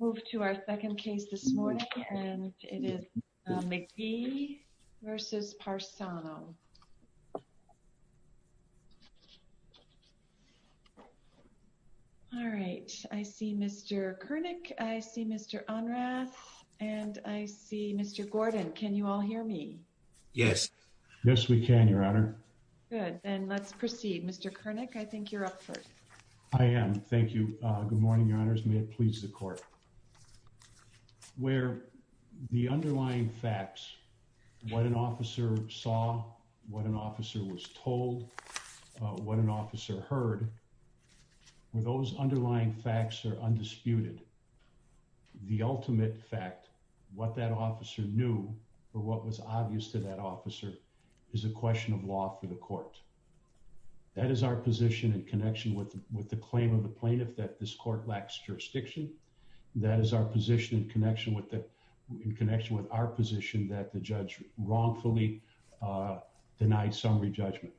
McGee v. Larry Parsano I see Mr. Kernick, I see Mr. Onrath, and I see Mr. Gordon. Can you all hear me? Yes. Yes, we can, Your Honor. Good. Then let's proceed. Mr. Kernick, I think you're up first. I am. Thank you. Good morning, Your Honors. May it please the court. Where the underlying facts, what an officer saw, what an officer was told, what an officer heard, where those underlying facts are undisputed, the ultimate fact, what that officer knew or what was obvious to that officer is a question of law for the court. That is our position in connection with the claim of the plaintiff that this court lacks jurisdiction. That is our position in connection with our position that the judge wrongfully denied summary judgment.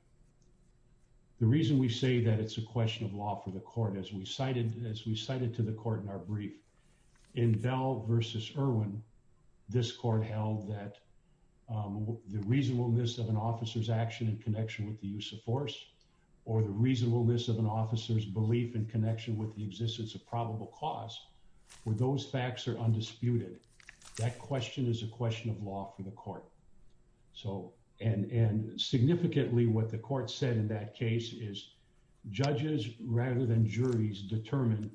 The reason we say that it's a question of law for the court, as we cited to the court in our brief, in Bell v. Irwin, this court held that the reasonableness of an officer's action in connection with the use of force or the reasonableness of an officer's belief in connection with the existence of probable cause, where those facts are undisputed, that question is a question of law for the court. So, and significantly, what the court said in that case is judges rather than juries determine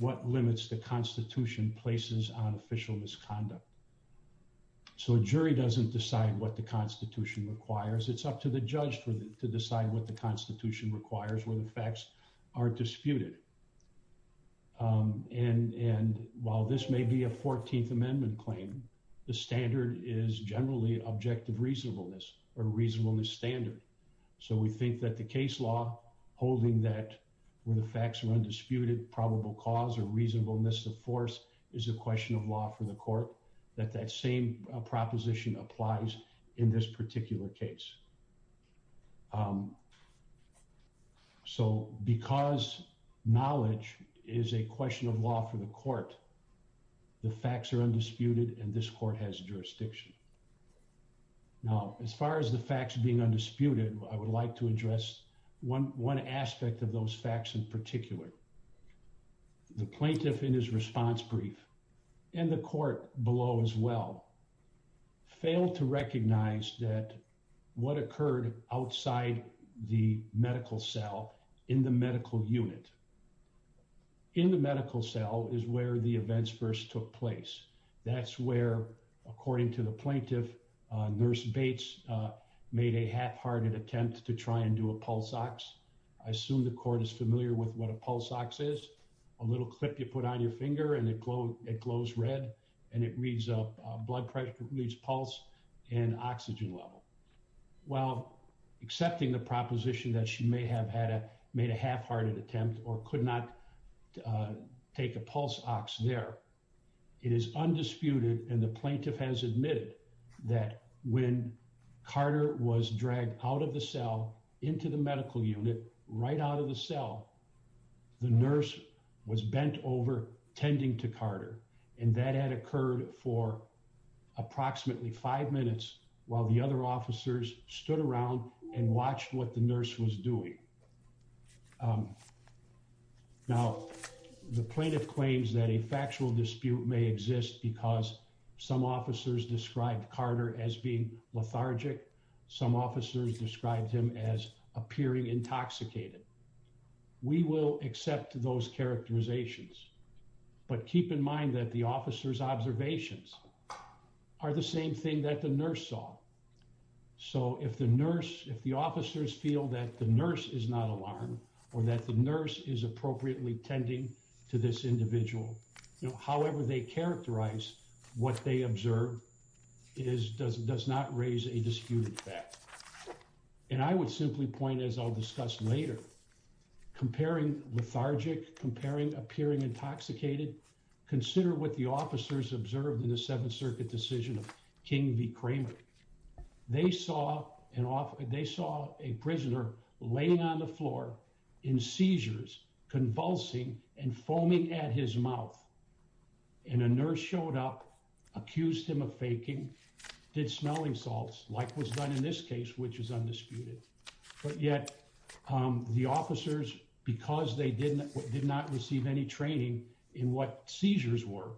what limits the Constitution places on official misconduct. So a jury doesn't decide what the Constitution requires. It's up to the judge to decide what the Constitution requires, where the facts are disputed. And while this may be a 14th Amendment claim, the standard is generally objective reasonableness or reasonableness standard. So we think that the case law holding that where the facts are is a question of law for the court, that that same proposition applies in this particular case. So because knowledge is a question of law for the court, the facts are undisputed and this court has jurisdiction. Now, as far as the facts being undisputed, I would like to address one aspect of those facts in particular. The plaintiff in his response brief and the court below as well, failed to recognize that what occurred outside the medical cell in the medical unit. In the medical cell is where the events first took place. That's where, according to the plaintiff, Nurse Bates made a half-hearted attempt to try and do a pulse ox. I assume the court is familiar with what a pulse ox is, a little clip you put on your finger and it glows red and it reads up blood pressure, it reads pulse and oxygen level. Well, accepting the proposition that she may have made a half-hearted attempt or could not take a pulse ox there, it is undisputed and the plaintiff has admitted that when Carter was dragged out of the cell into the medical unit, right out of the cell, the nurse was bent over tending to Carter and that had occurred for approximately five minutes while the other officers stood around and watched what nurse was doing. Now, the plaintiff claims that a factual dispute may exist because some officers described Carter as being lethargic, some officers described him as appearing intoxicated. We will accept those characterizations, but keep in mind that the officer's observations are the same thing that the nurse saw. So, if the nurse, if the officers feel that the nurse is not alarmed or that the nurse is appropriately tending to this individual, you know, however they characterize what they observe, it does not raise a disputed fact. And I would simply point, as I'll discuss later, comparing lethargic, comparing appearing intoxicated, consider what the officers observed in the Seventh Circuit decision of King v. Kramer. They saw a prisoner laying on the floor in seizures, convulsing, and foaming at his mouth. And a nurse showed up, accused him of faking, did smelling salts, like was done in this case, which is undisputed. But yet, the officers, because they did not receive any training in what seizures were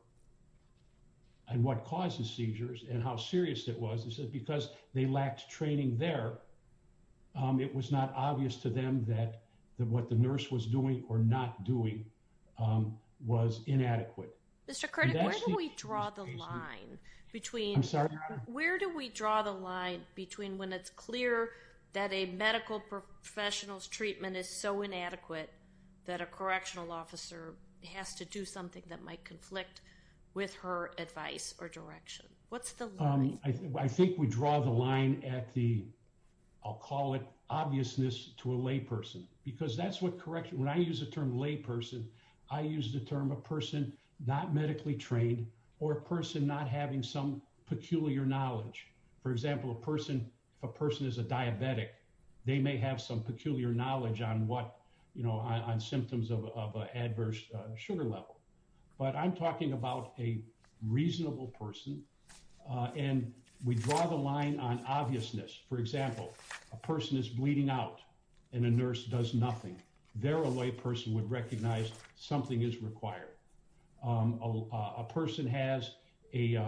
and what causes seizures and how serious it was, because they lacked training there, it was not obvious to them that what the nurse was doing or not doing was inadequate. Mr. Curtick, where do we draw the line between, where do we draw the line between when it's clear that a medical professional's treatment is so inadequate that a correctional officer has to do something that might conflict with her advice or direction? What's the line? I think we draw the line at the, I'll call it, obviousness to a layperson. Because that's what when I use the term layperson, I use the term a person not medically trained or a person not having some peculiar knowledge. For example, a person, if a person is a diabetic, they may have some peculiar knowledge on what, you know, on symptoms of adverse sugar level. But I'm talking about a reasonable person. And we draw the line on obviousness. For example, a person is bleeding out and a nurse does nothing. Their layperson would recognize something is required. A person has a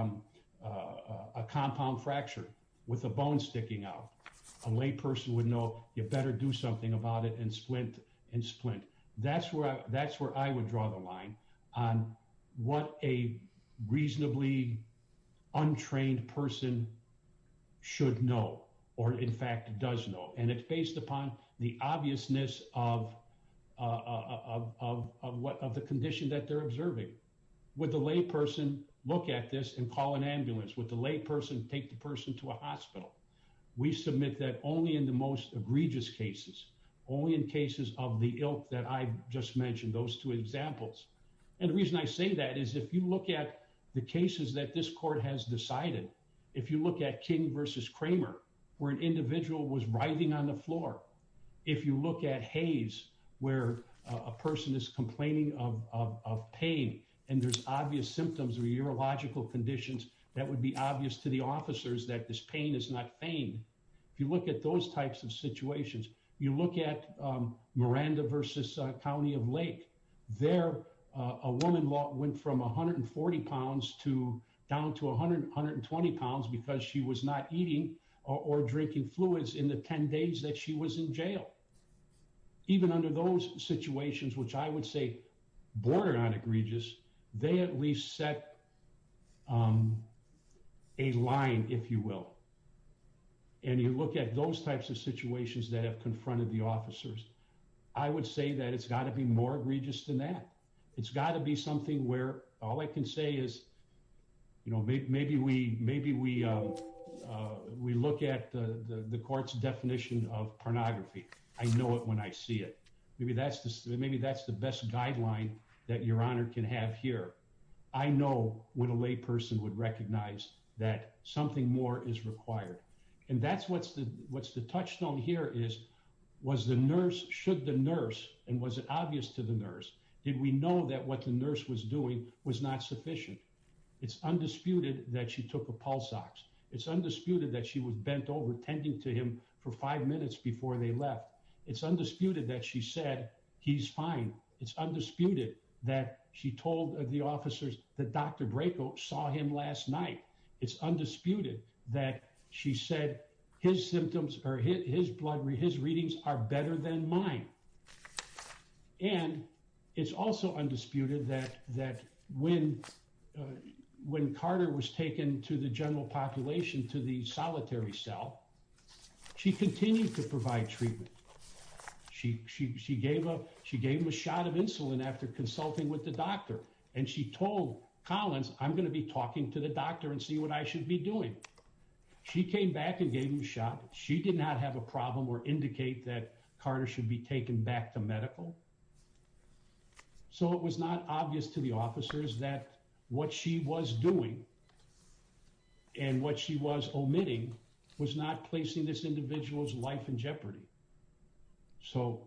compound fracture with a bone sticking out. A layperson would know you better do something about it and splint and splint. That's where I would draw the line on what a reasonably untrained person should know or in fact does know. And it's based upon the obviousness of the condition that they're observing. Would the layperson look at this and call an ambulance? Would the layperson take the person to a hospital? We submit that only in the most egregious cases, only in cases of the ilk that I just mentioned, those two examples. And the reason I say that is if you look at the cases that this court has decided, if you look at King versus Kramer, where an individual was writhing on the floor, if you look at Hayes, where a person is complaining of pain and there's obvious symptoms or urological conditions, that would be obvious to the officers that this pain is not feigned. If you look at those types of situations, you look at Miranda versus County of Lake. There, a woman went from 140 pounds to down to 120 pounds because she was not eating or drinking fluids in the 10 days that she was in jail. Even under those situations, which I would say border on egregious, they at least set a line, if you will. And you look at those types of situations that have confronted the officers, I would say that it's got to be more egregious than that. It's got to be something where all I can say is, you know, maybe we look at the court's definition of pornography. I know it when I see it. Maybe that's the best guideline that Your Honor can have here. I know when a lay person would recognize that something more is required. And that's what's the touchstone here is, was the nurse, should the nurse, and was it obvious to the nurse, did we know that what the nurse was doing was not sufficient? It's undisputed that she took a pulse ox. It's undisputed that she was bent over tending to him for five minutes before they left. It's undisputed that she said, he's fine. It's undisputed that she said his symptoms or his blood, his readings are better than mine. And it's also undisputed that when Carter was taken to the general population, to the solitary cell, she continued to provide treatment. She gave him a shot of insulin after consulting with the doctor. And she told Collins, I'm going to be talking to the doctor and see what I should be doing. She came back and gave him a shot. She did not have a problem or indicate that Carter should be taken back to medical. So it was not obvious to the officers that what she was doing and what she was omitting was not placing this individual's life in jeopardy. So,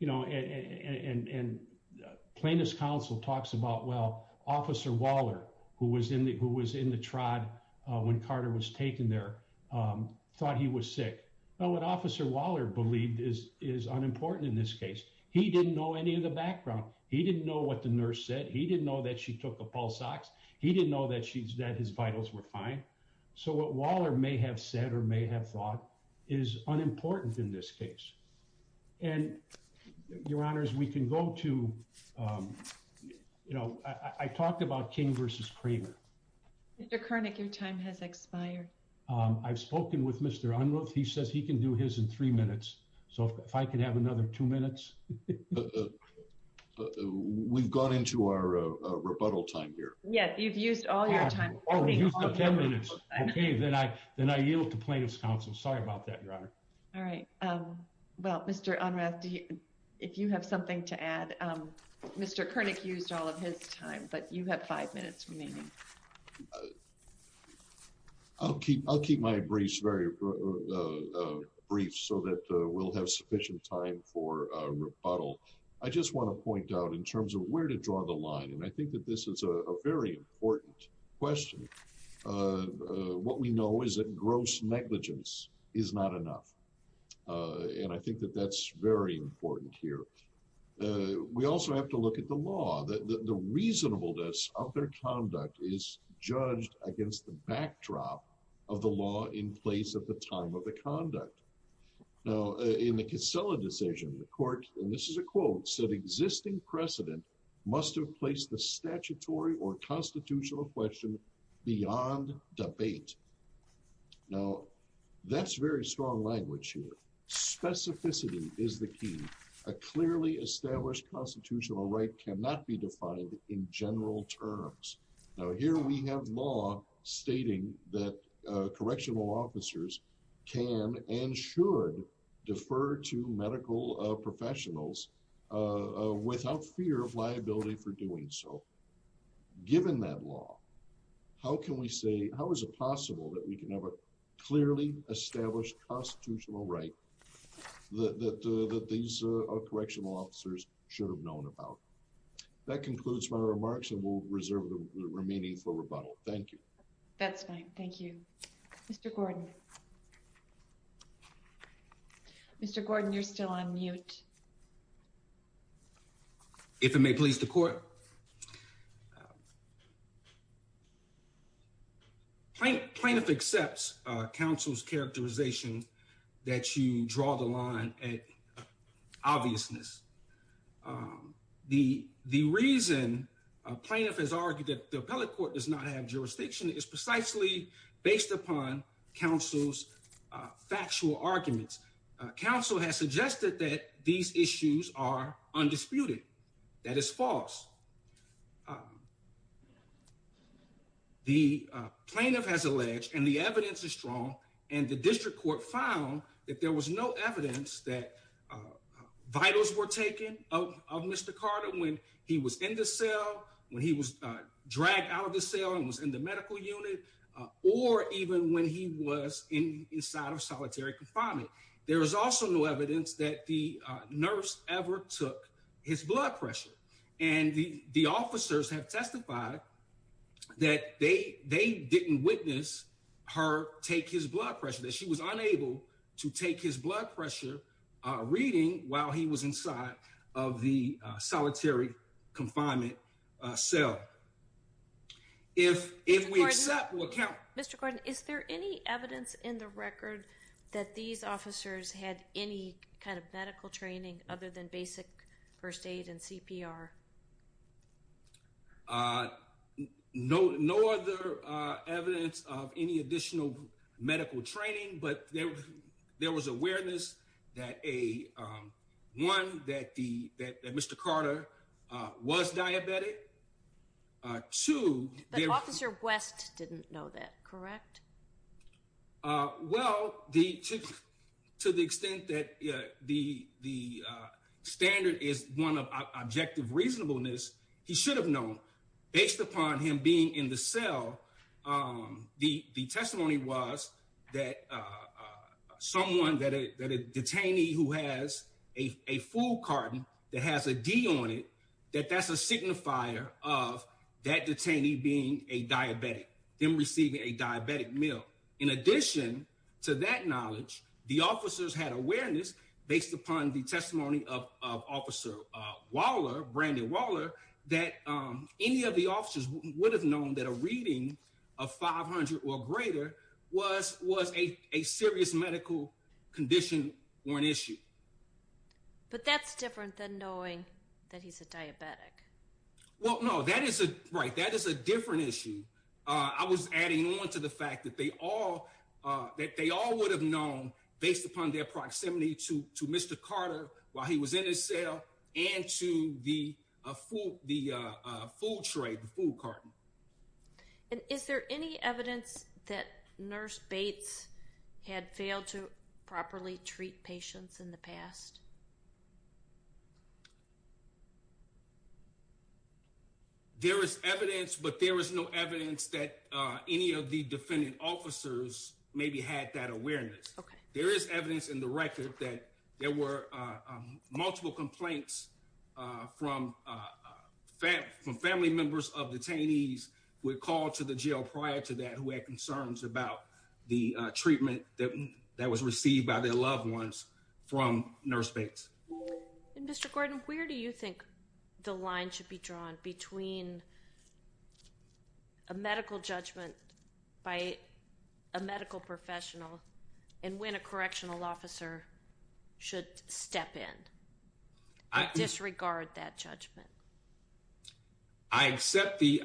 you know, and plaintiff's counsel talks about, well, officer Waller, who was in the trod when Carter was taken there, thought he was sick. Well, what officer Waller believed is unimportant in this case. He didn't know any of the background. He didn't know what the nurse said. He didn't know that she took a pulse ox. He didn't know that his vitals were fine. So what Waller may have said or may have thought is unimportant in this case. And your honors, we can go to, you know, I talked about King versus Kramer. Mr. Koenig, your time has expired. I've spoken with Mr. Unruh. He says he can do his in three minutes. So if I could have another two minutes. We've gone into our rebuttal time here. Yes, you've used all your time. Then I yield to plaintiff's counsel. Sorry about that, your honor. All right. Well, Mr. Unruh, if you have something to add, Mr. Koenig used all of his time, but you have five minutes remaining. I'll keep my briefs very brief so that we'll have sufficient time for rebuttal. I just want to point out in terms of where to draw the line, and I think that this is a very important question, what we know is that gross negligence is not enough. And I think that that's very important here. We also have to look at the law, that the reasonableness of their conduct is judged against the backdrop of the law in place at the time of the conduct. Now, in the Casella decision, the court, and this is a quote, said existing precedent must have placed the statutory or constitutional question beyond debate. Now, that's very strong language here. Specificity is the key. A clearly established constitutional right cannot be defined in general terms. Now, here we have law stating that correctional officers can and should defer to medical professionals without fear of liability for doing so. Given that law, how can we say, how is it possible that we can have a clearly established constitutional right that these correctional officers should have known about? That concludes my remarks, and we'll reserve the remaining for rebuttal. Thank you. That's fine. Thank you. Mr. Gordon. Mr. Gordon, you're still on mute. If it may please the court. Plaintiff accepts counsel's characterization that you draw the line at obviousness. The reason a plaintiff has argued that the appellate court does not have jurisdiction is precisely based upon counsel's factual arguments. Counsel has suggested that these issues are undisputed. That is false. The plaintiff has alleged, and the evidence is strong, and the district court found that there was no evidence that vitals were taken of Mr. Carter when he was in the cell, when he was in the hospital unit, or even when he was inside of solitary confinement. There was also no evidence that the nurse ever took his blood pressure, and the officers have testified that they didn't witness her take his blood pressure, that she was unable to take his blood pressure reading while he was inside of the solitary confinement cell. If we accept or count... Mr. Gordon, is there any evidence in the record that these officers had any kind of medical training other than basic first aid and CPR? No other evidence of any additional medical training, but there was awareness that a, one, that Mr. Carter was diabetic. Two... But Officer West didn't know that, correct? Well, to the extent that the standard is one of objective reasonableness, he should have known. Based upon him being in the cell, the testimony was that someone, that a detainee who had a food carton that has a D on it, that that's a signifier of that detainee being a diabetic, them receiving a diabetic meal. In addition to that knowledge, the officers had awareness based upon the testimony of Officer Waller, Brandon Waller, that any of the officers would have known that a reading of 500 or greater was a serious medical condition or an issue. But that's different than knowing that he's a diabetic. Well, no, that is a, right, that is a different issue. I was adding on to the fact that they all, that they all would have known based upon their proximity to Mr. Carter while he was in his cell and to the food tray, the food carton. And is there any evidence that Nurse Bates had failed to properly treat patients in the past? There is evidence, but there is no evidence that any of the defendant officers maybe had that awareness. There is evidence in the record that there were multiple complaints from family members of detainees who had called to the jail prior to that, who had concerns about the treatment that was received by their loved ones from Nurse Bates. And Mr. Gordon, where do you think the line should be drawn between a medical judgment by a medical professional and when a correctional officer should step in and disregard that judgment? I accept the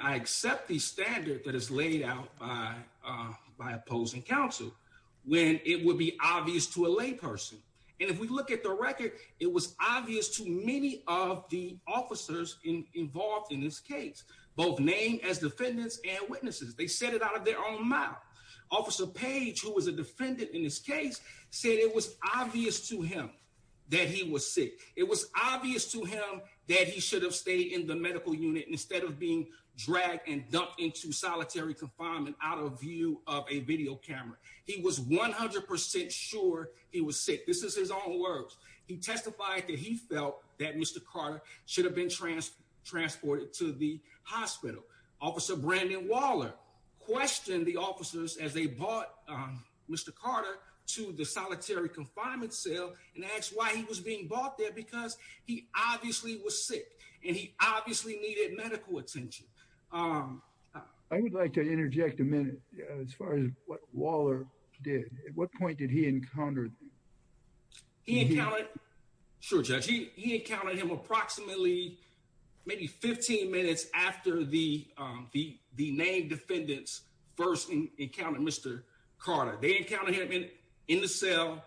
standard that is laid out by opposing counsel when it would be obvious to a lay person. And if we look at the record, it was obvious to many of the officers involved in this case, both named as defendants and witnesses. They said it out of their own mouth. Officer Page, who was a defendant in this case, said it was obvious to him that he was sick. It was obvious to him that he should have stayed in the medical unit instead of being dragged and dumped into solitary confinement out of view of a video camera. He was 100% sure he was sick. This is his own words. He testified that he felt that Mr. Carter should have been transported to the as they brought Mr. Carter to the solitary confinement cell and asked why he was being brought there because he obviously was sick and he obviously needed medical attention. I would like to interject a minute as far as what Waller did. At what point did he encounter? He encountered, sure Judge, he encountered him approximately maybe 15 minutes after the Carter. They encountered him in the cell,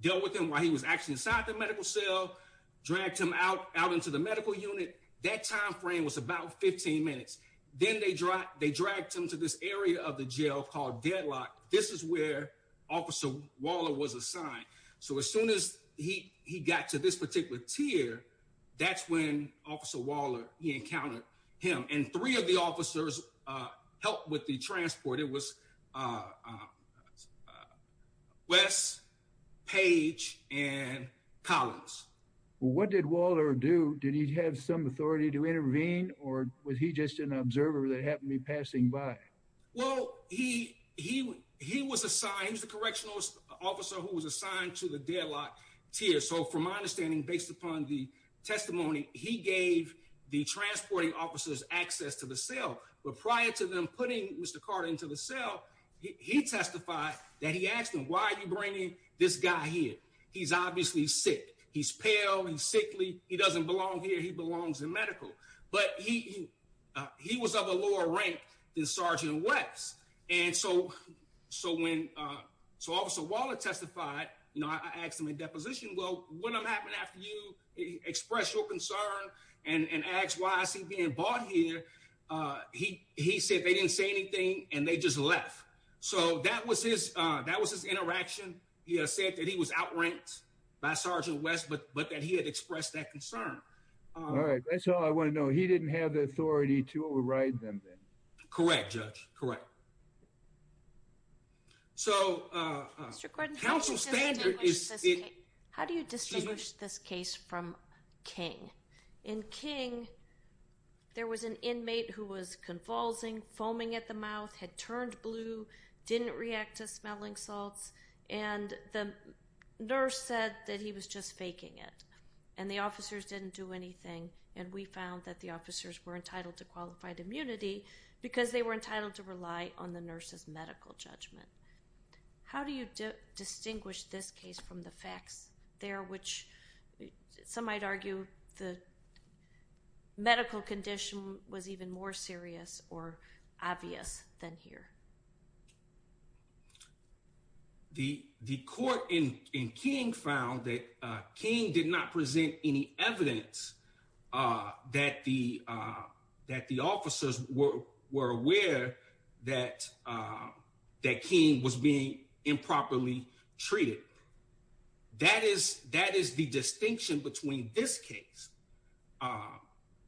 dealt with him while he was actually inside the medical cell, dragged him out into the medical unit. That timeframe was about 15 minutes. Then they dragged him to this area of the jail called Deadlock. This is where Officer Waller was assigned. So as soon as he got to this particular tier, that's when Officer Waller, he encountered him and three of the officers helped with the transport. It was Wes, Paige and Collins. What did Waller do? Did he have some authority to intervene or was he just an observer that happened to be passing by? Well, he was assigned, he was the correctional officer who was assigned to the Deadlock tier. So from my understanding, based upon the testimony, he gave the transporting officers access to the cell. But prior to them putting Mr. Carter into the cell, he testified that he asked him, why are you bringing this guy here? He's obviously sick, he's pale, he's sickly, he doesn't belong here, he belongs in medical. But he was of a lower rank than Sergeant Wes. And so when Officer Waller testified, I asked him in deposition, well, what happened after you expressed your concern and asked why is he being brought here? He said they didn't say anything and they just left. So that was his interaction. He said that he was outranked by Sergeant Wes, but that he had expressed that concern. All right, that's all I want to know. He didn't have the authority to override them then? Correct, Judge, correct. Mr. Gordon, how do you distinguish this case from King? In King, there was an inmate who was convulsing, foaming at the mouth, had turned blue, didn't react to smelling salts. And the nurse said that he was just faking it. And the officers didn't do anything. And we found that the officers were aware that King did not present any evidence that the officers were aware that that King was being improperly treated. That is the distinction between this case.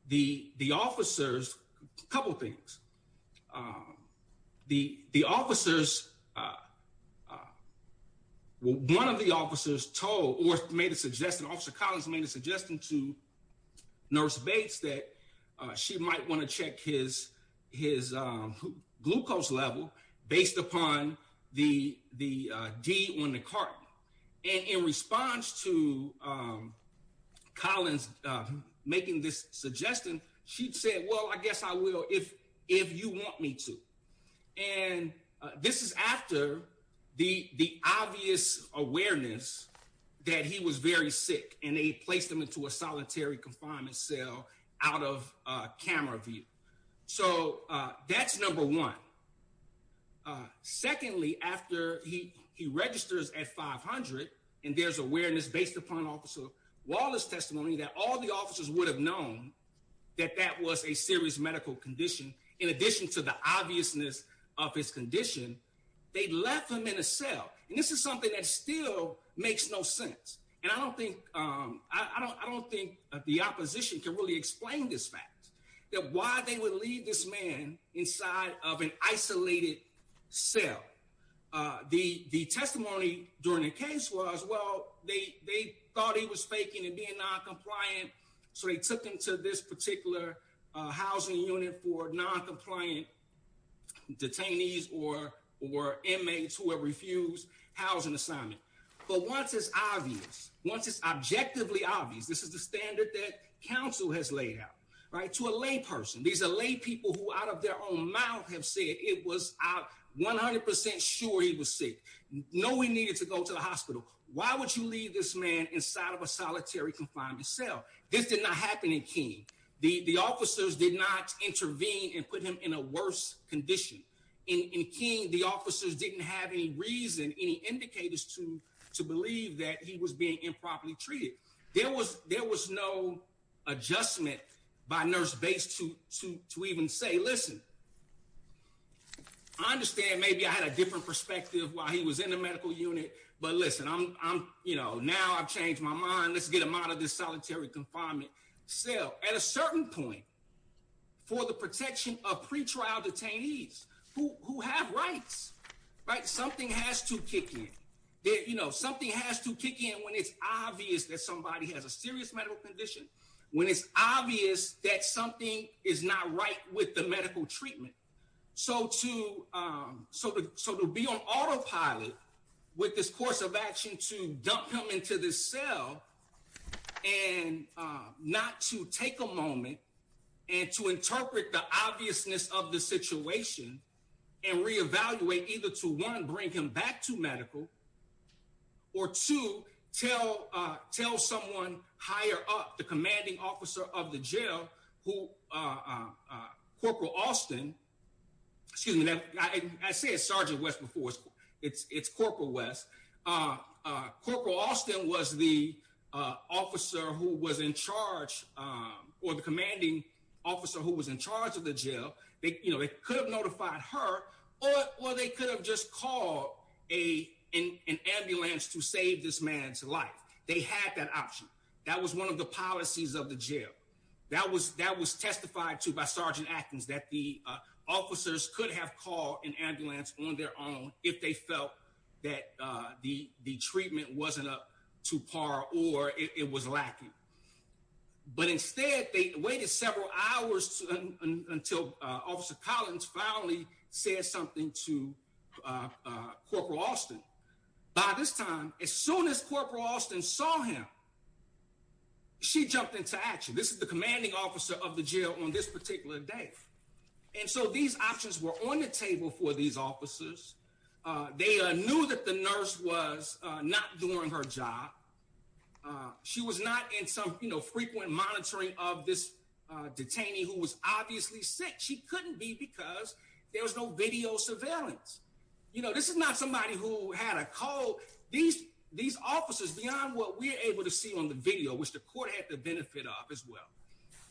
The officers, a couple things. The officers, one of the officers told, or made a suggestion, Officer Collins made a suggestion to that she might want to check his glucose level based upon the D on the carton. And in response to Collins making this suggestion, she said, well, I guess I will if you want me to. And this is after the obvious awareness that he was very sick and they placed him into a solitary confinement cell out of camera view. So that's number one. Secondly, after he registers at 500 and there's awareness based upon Officer Wallace's testimony that all the officers would have known that that was a serious medical condition, in addition to the obviousness of his condition, they left him in a cell. And this is something that still makes no sense. And I don't think I don't think the opposition can really explain this fact that why they would leave this man inside of an isolated cell. The testimony during the case was, well, they thought he was faking and being noncompliant. So they took him to this particular housing unit for noncompliant detainees or or inmates who have refused housing assignment. But once it's obvious, once it's objectively obvious, this is the standard that counsel has laid out to a lay person. These are lay people who out of their own mouth have said it was 100 percent sure he was sick. No, we needed to go to the hospital. Why would you leave this man inside of a solitary confined cell? This did not happen in King. The officers did not intervene and put him in a condition in King. The officers didn't have any reason, any indicators to to believe that he was being improperly treated. There was there was no adjustment by nurse base to to to even say, listen, I understand maybe I had a different perspective while he was in the medical unit. But listen, I'm you know, now I've changed my mind. Let's get him out of this solitary confinement cell at a certain point for the protection of pretrial detainees who have rights. Right. Something has to kick in there. You know, something has to kick in when it's obvious that somebody has a serious medical condition, when it's obvious that something is not right with the medical treatment. So to so so to be on autopilot with this course of action to dump him into this cell and not to take a moment and to interpret the obviousness of the situation and reevaluate either to one, bring him back to medical or to tell tell someone higher up the commanding officer of the jail who Corporal Austin, excuse me, I say it's Sergeant West before it's it's it's Corporal West. Corporal Austin was the officer who was in charge or the commanding officer who was in charge of the jail. They could have notified her or they could have just called a an ambulance to save this man's life. They had that option. That was one of the policies of the jail. That was that was testified to by Sergeant Atkins, that the officers could have called an ambulance on their own if they felt that the treatment wasn't up to par or it was lacking. But instead, they waited several hours until Officer Collins finally said something to Corporal Austin. By this time, as soon as Corporal Austin saw him, she jumped into action. This is the commanding officer of the jail on this particular day. And so these options were on the table for these officers. They knew that the nurse was not doing her job. She was not in some, you know, frequent monitoring of this detainee who was obviously sick. She couldn't be because there was no video surveillance. You know, this is not somebody who had a cold. These these officers beyond what we're able to see on the video, which the court had the benefit of as well,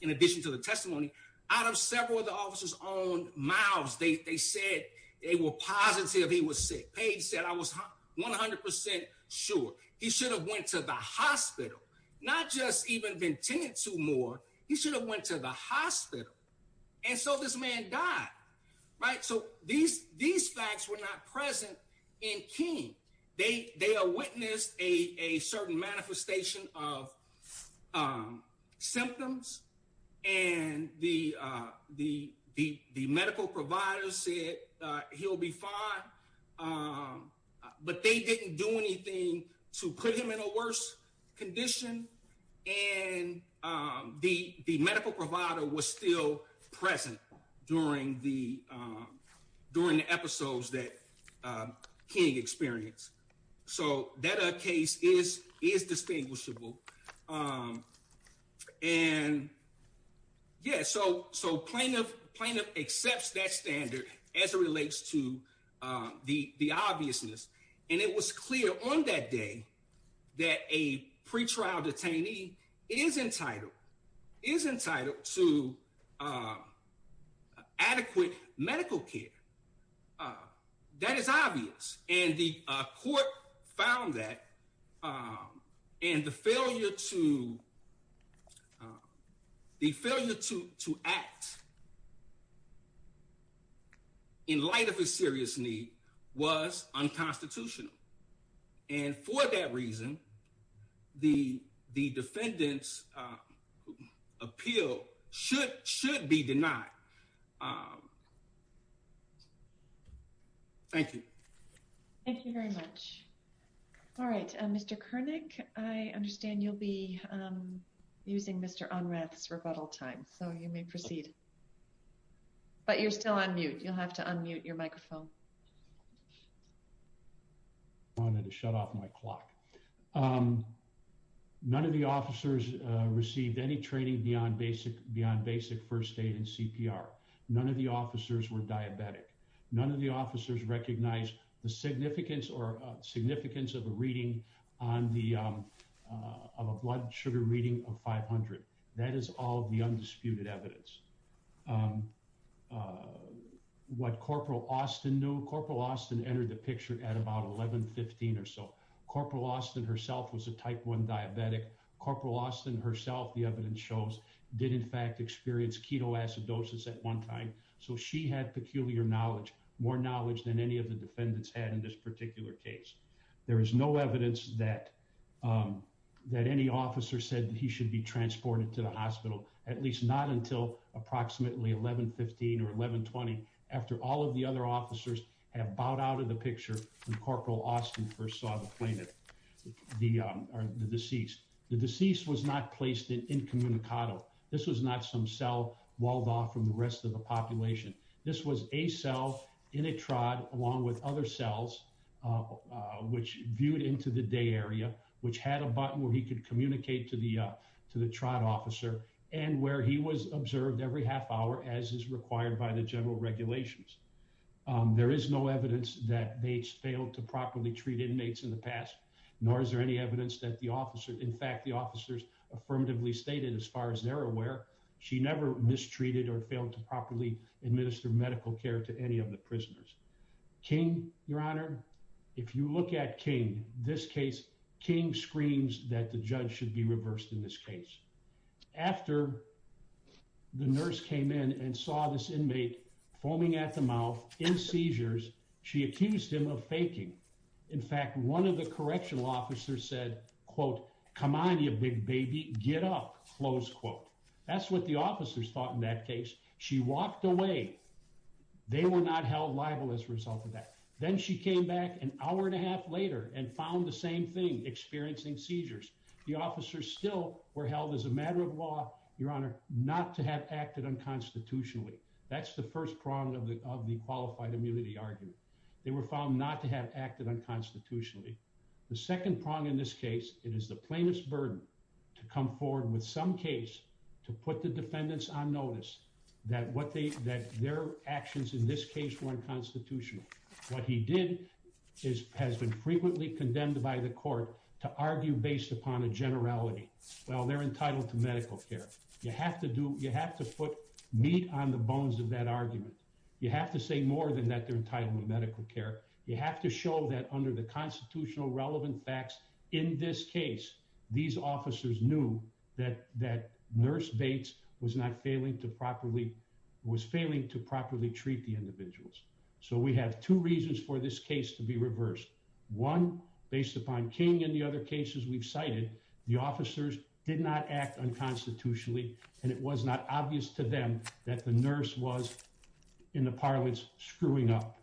in addition to the testimony out of several of the officers own mouths, they said they were positive he was sick. Page said I was 100 percent sure he should have went to the hospital, not just even been tended to more. He should have went to the hospital. And so this man died. Right. So these these facts were not present in King. They they witnessed a certain manifestation of symptoms. And the the the medical provider said he'll be fine. But they didn't do anything to put him in a worse condition. And the medical provider was still present during the during the episodes that King experienced. So that case is is distinguishable. And yeah, so so plaintiff plaintiff accepts that standard as it relates to the the obviousness. And it was clear on that day that a pretrial detainee is entitled is entitled to adequate medical care. That is obvious. And the court found that and the failure to the failure to to act. In light of a serious need was unconstitutional, and for that reason, the the defendants appeal should should be denied. Thank you. Thank you very much. All right. Mr. Kernick, I understand you'll be using Mr. Unreth's rebuttal time, so you may proceed. But you're still on mute. You'll have to unmute your microphone. I wanted to shut off my clock. None of the officers received any training beyond basic beyond basic first aid and CPR. None of the officers were diabetic. None of the officers recognized the significance or significance of a reading on the of a blood sugar reading of 500. That is all the undisputed evidence. What Corporal Austin knew, Corporal Austin entered the picture at about 1115 or so. Corporal Austin herself was a type one diabetic. Corporal Austin herself, the evidence shows, did in fact experience ketoacidosis at one time. So she had peculiar knowledge, more knowledge than any of the defendants had in this particular case. There is no evidence that that any officer said he should be transported to the hospital, at least not until approximately 1115 or 1120 after all of the other officers have bowed out of the picture when Corporal Austin first saw the plaintiff, the deceased. The deceased was not placed in incommunicado. This was not some cell walled off from the rest of the population. This was a cell in a trod along with other cells, which viewed into the day area, which had a button where he could communicate to the to the trod officer and where he was observed every half hour as is required by the general regulations. There is no evidence that they failed to properly treat inmates in the past, nor is there any evidence that the officer, in fact, the officers affirmatively stated as far as they're aware, she never mistreated or failed to properly administer medical care to any of the prisoners. King, your honor, if you look at King, this case, King screams that the judge should be reversed in this case. After the nurse came in and saw this inmate foaming at the mouth in seizures, she accused him of faking. In fact, one of the correctional officers said, quote, come on, you big baby, get up, close quote. That's what the officers thought in that case. She walked away. They were not held liable as a result of that. Then she came back an hour and a half later and found the same thing experiencing seizures. The officers still were held as a matter of law, your honor, not to have acted unconstitutionally. That's the first prong of the qualified immunity argument. They were found not to have acted unconstitutionally. The second prong in this case, it is the plaintiff's burden to come forward with some case to put the defendants on notice that their actions in this case were unconstitutional. What he did has been frequently condemned by the court to argue based upon a generality. Well, they're entitled to medical care. You have to put meat on the bones of that argument. You have to say more than that they're entitled to medical care. You have to show that under the constitutional relevant facts in this case, these officers knew that nurse Bates was not failing to properly, was failing to properly treat the individuals. We have two reasons for this case to be reversed. One, based upon King and the other cases we've cited, the officers did not act unconstitutionally and it was not obvious to them that the nurse was in the parlance screwing up.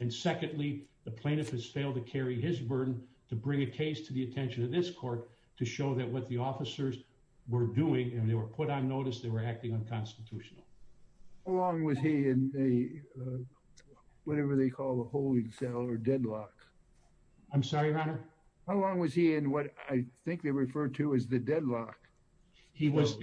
And secondly, the plaintiff has failed to carry his burden to bring a case to the attention of this court to show that what the officers were doing and they were put on notice, they were acting unconstitutional. How long was he in the, uh, whatever they call the holding cell or deadlock? I'm sorry, your honor. How long was he in what I think they refer to as the deadlock? He was,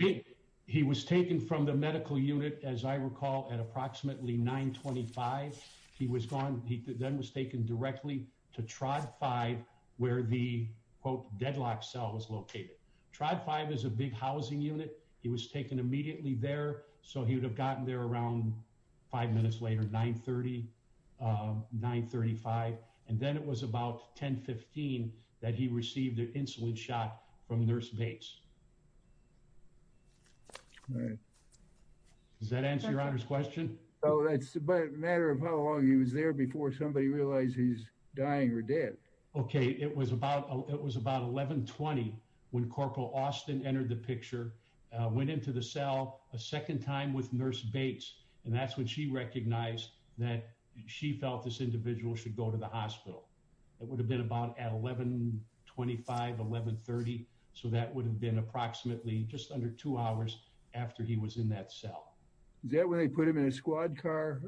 he was taken from the medical unit. As I recall at approximately 925, he was gone. He then was taken directly to trod five where the quote deadlock cell was located. Tried five is a big housing unit. He was taken immediately there. So he would have gotten there around five minutes later, nine 30, uh, nine 35. And then it was about 10 15 that he received insulin shot from nurse Bates. All right. Does that answer your honor's question? Oh, that's a matter of how long he was there before somebody realized he's dying or dead. Okay. It was about, it was about 1120 when corporal Austin entered the picture, went into the cell a second time with nurse Bates. And that's when she recognized that she felt this 1130. So that would have been approximately just under two hours after he was in that cell. Is that where they put him in a squad car?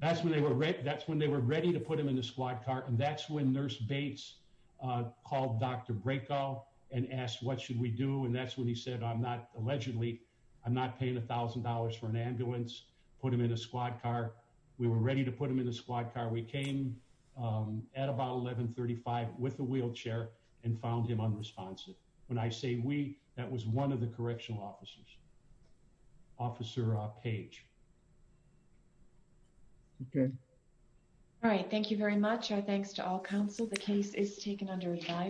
That's when they were ready. That's when they were ready to put him in the squad car. And that's when nurse Bates, uh, called Dr. Breakout and asked what should we do? And that's when he said, I'm not allegedly, I'm not paying a thousand dollars for an ambulance, put him in a squad car. We were ready to put them in the squad car. We came, um, at about 1135 with a wheelchair and found him unresponsive. When I say we, that was one of the correctional officers, officer, uh, page. Okay. All right. Thank you very much. Our thanks to all counsel. The case is taken under revise.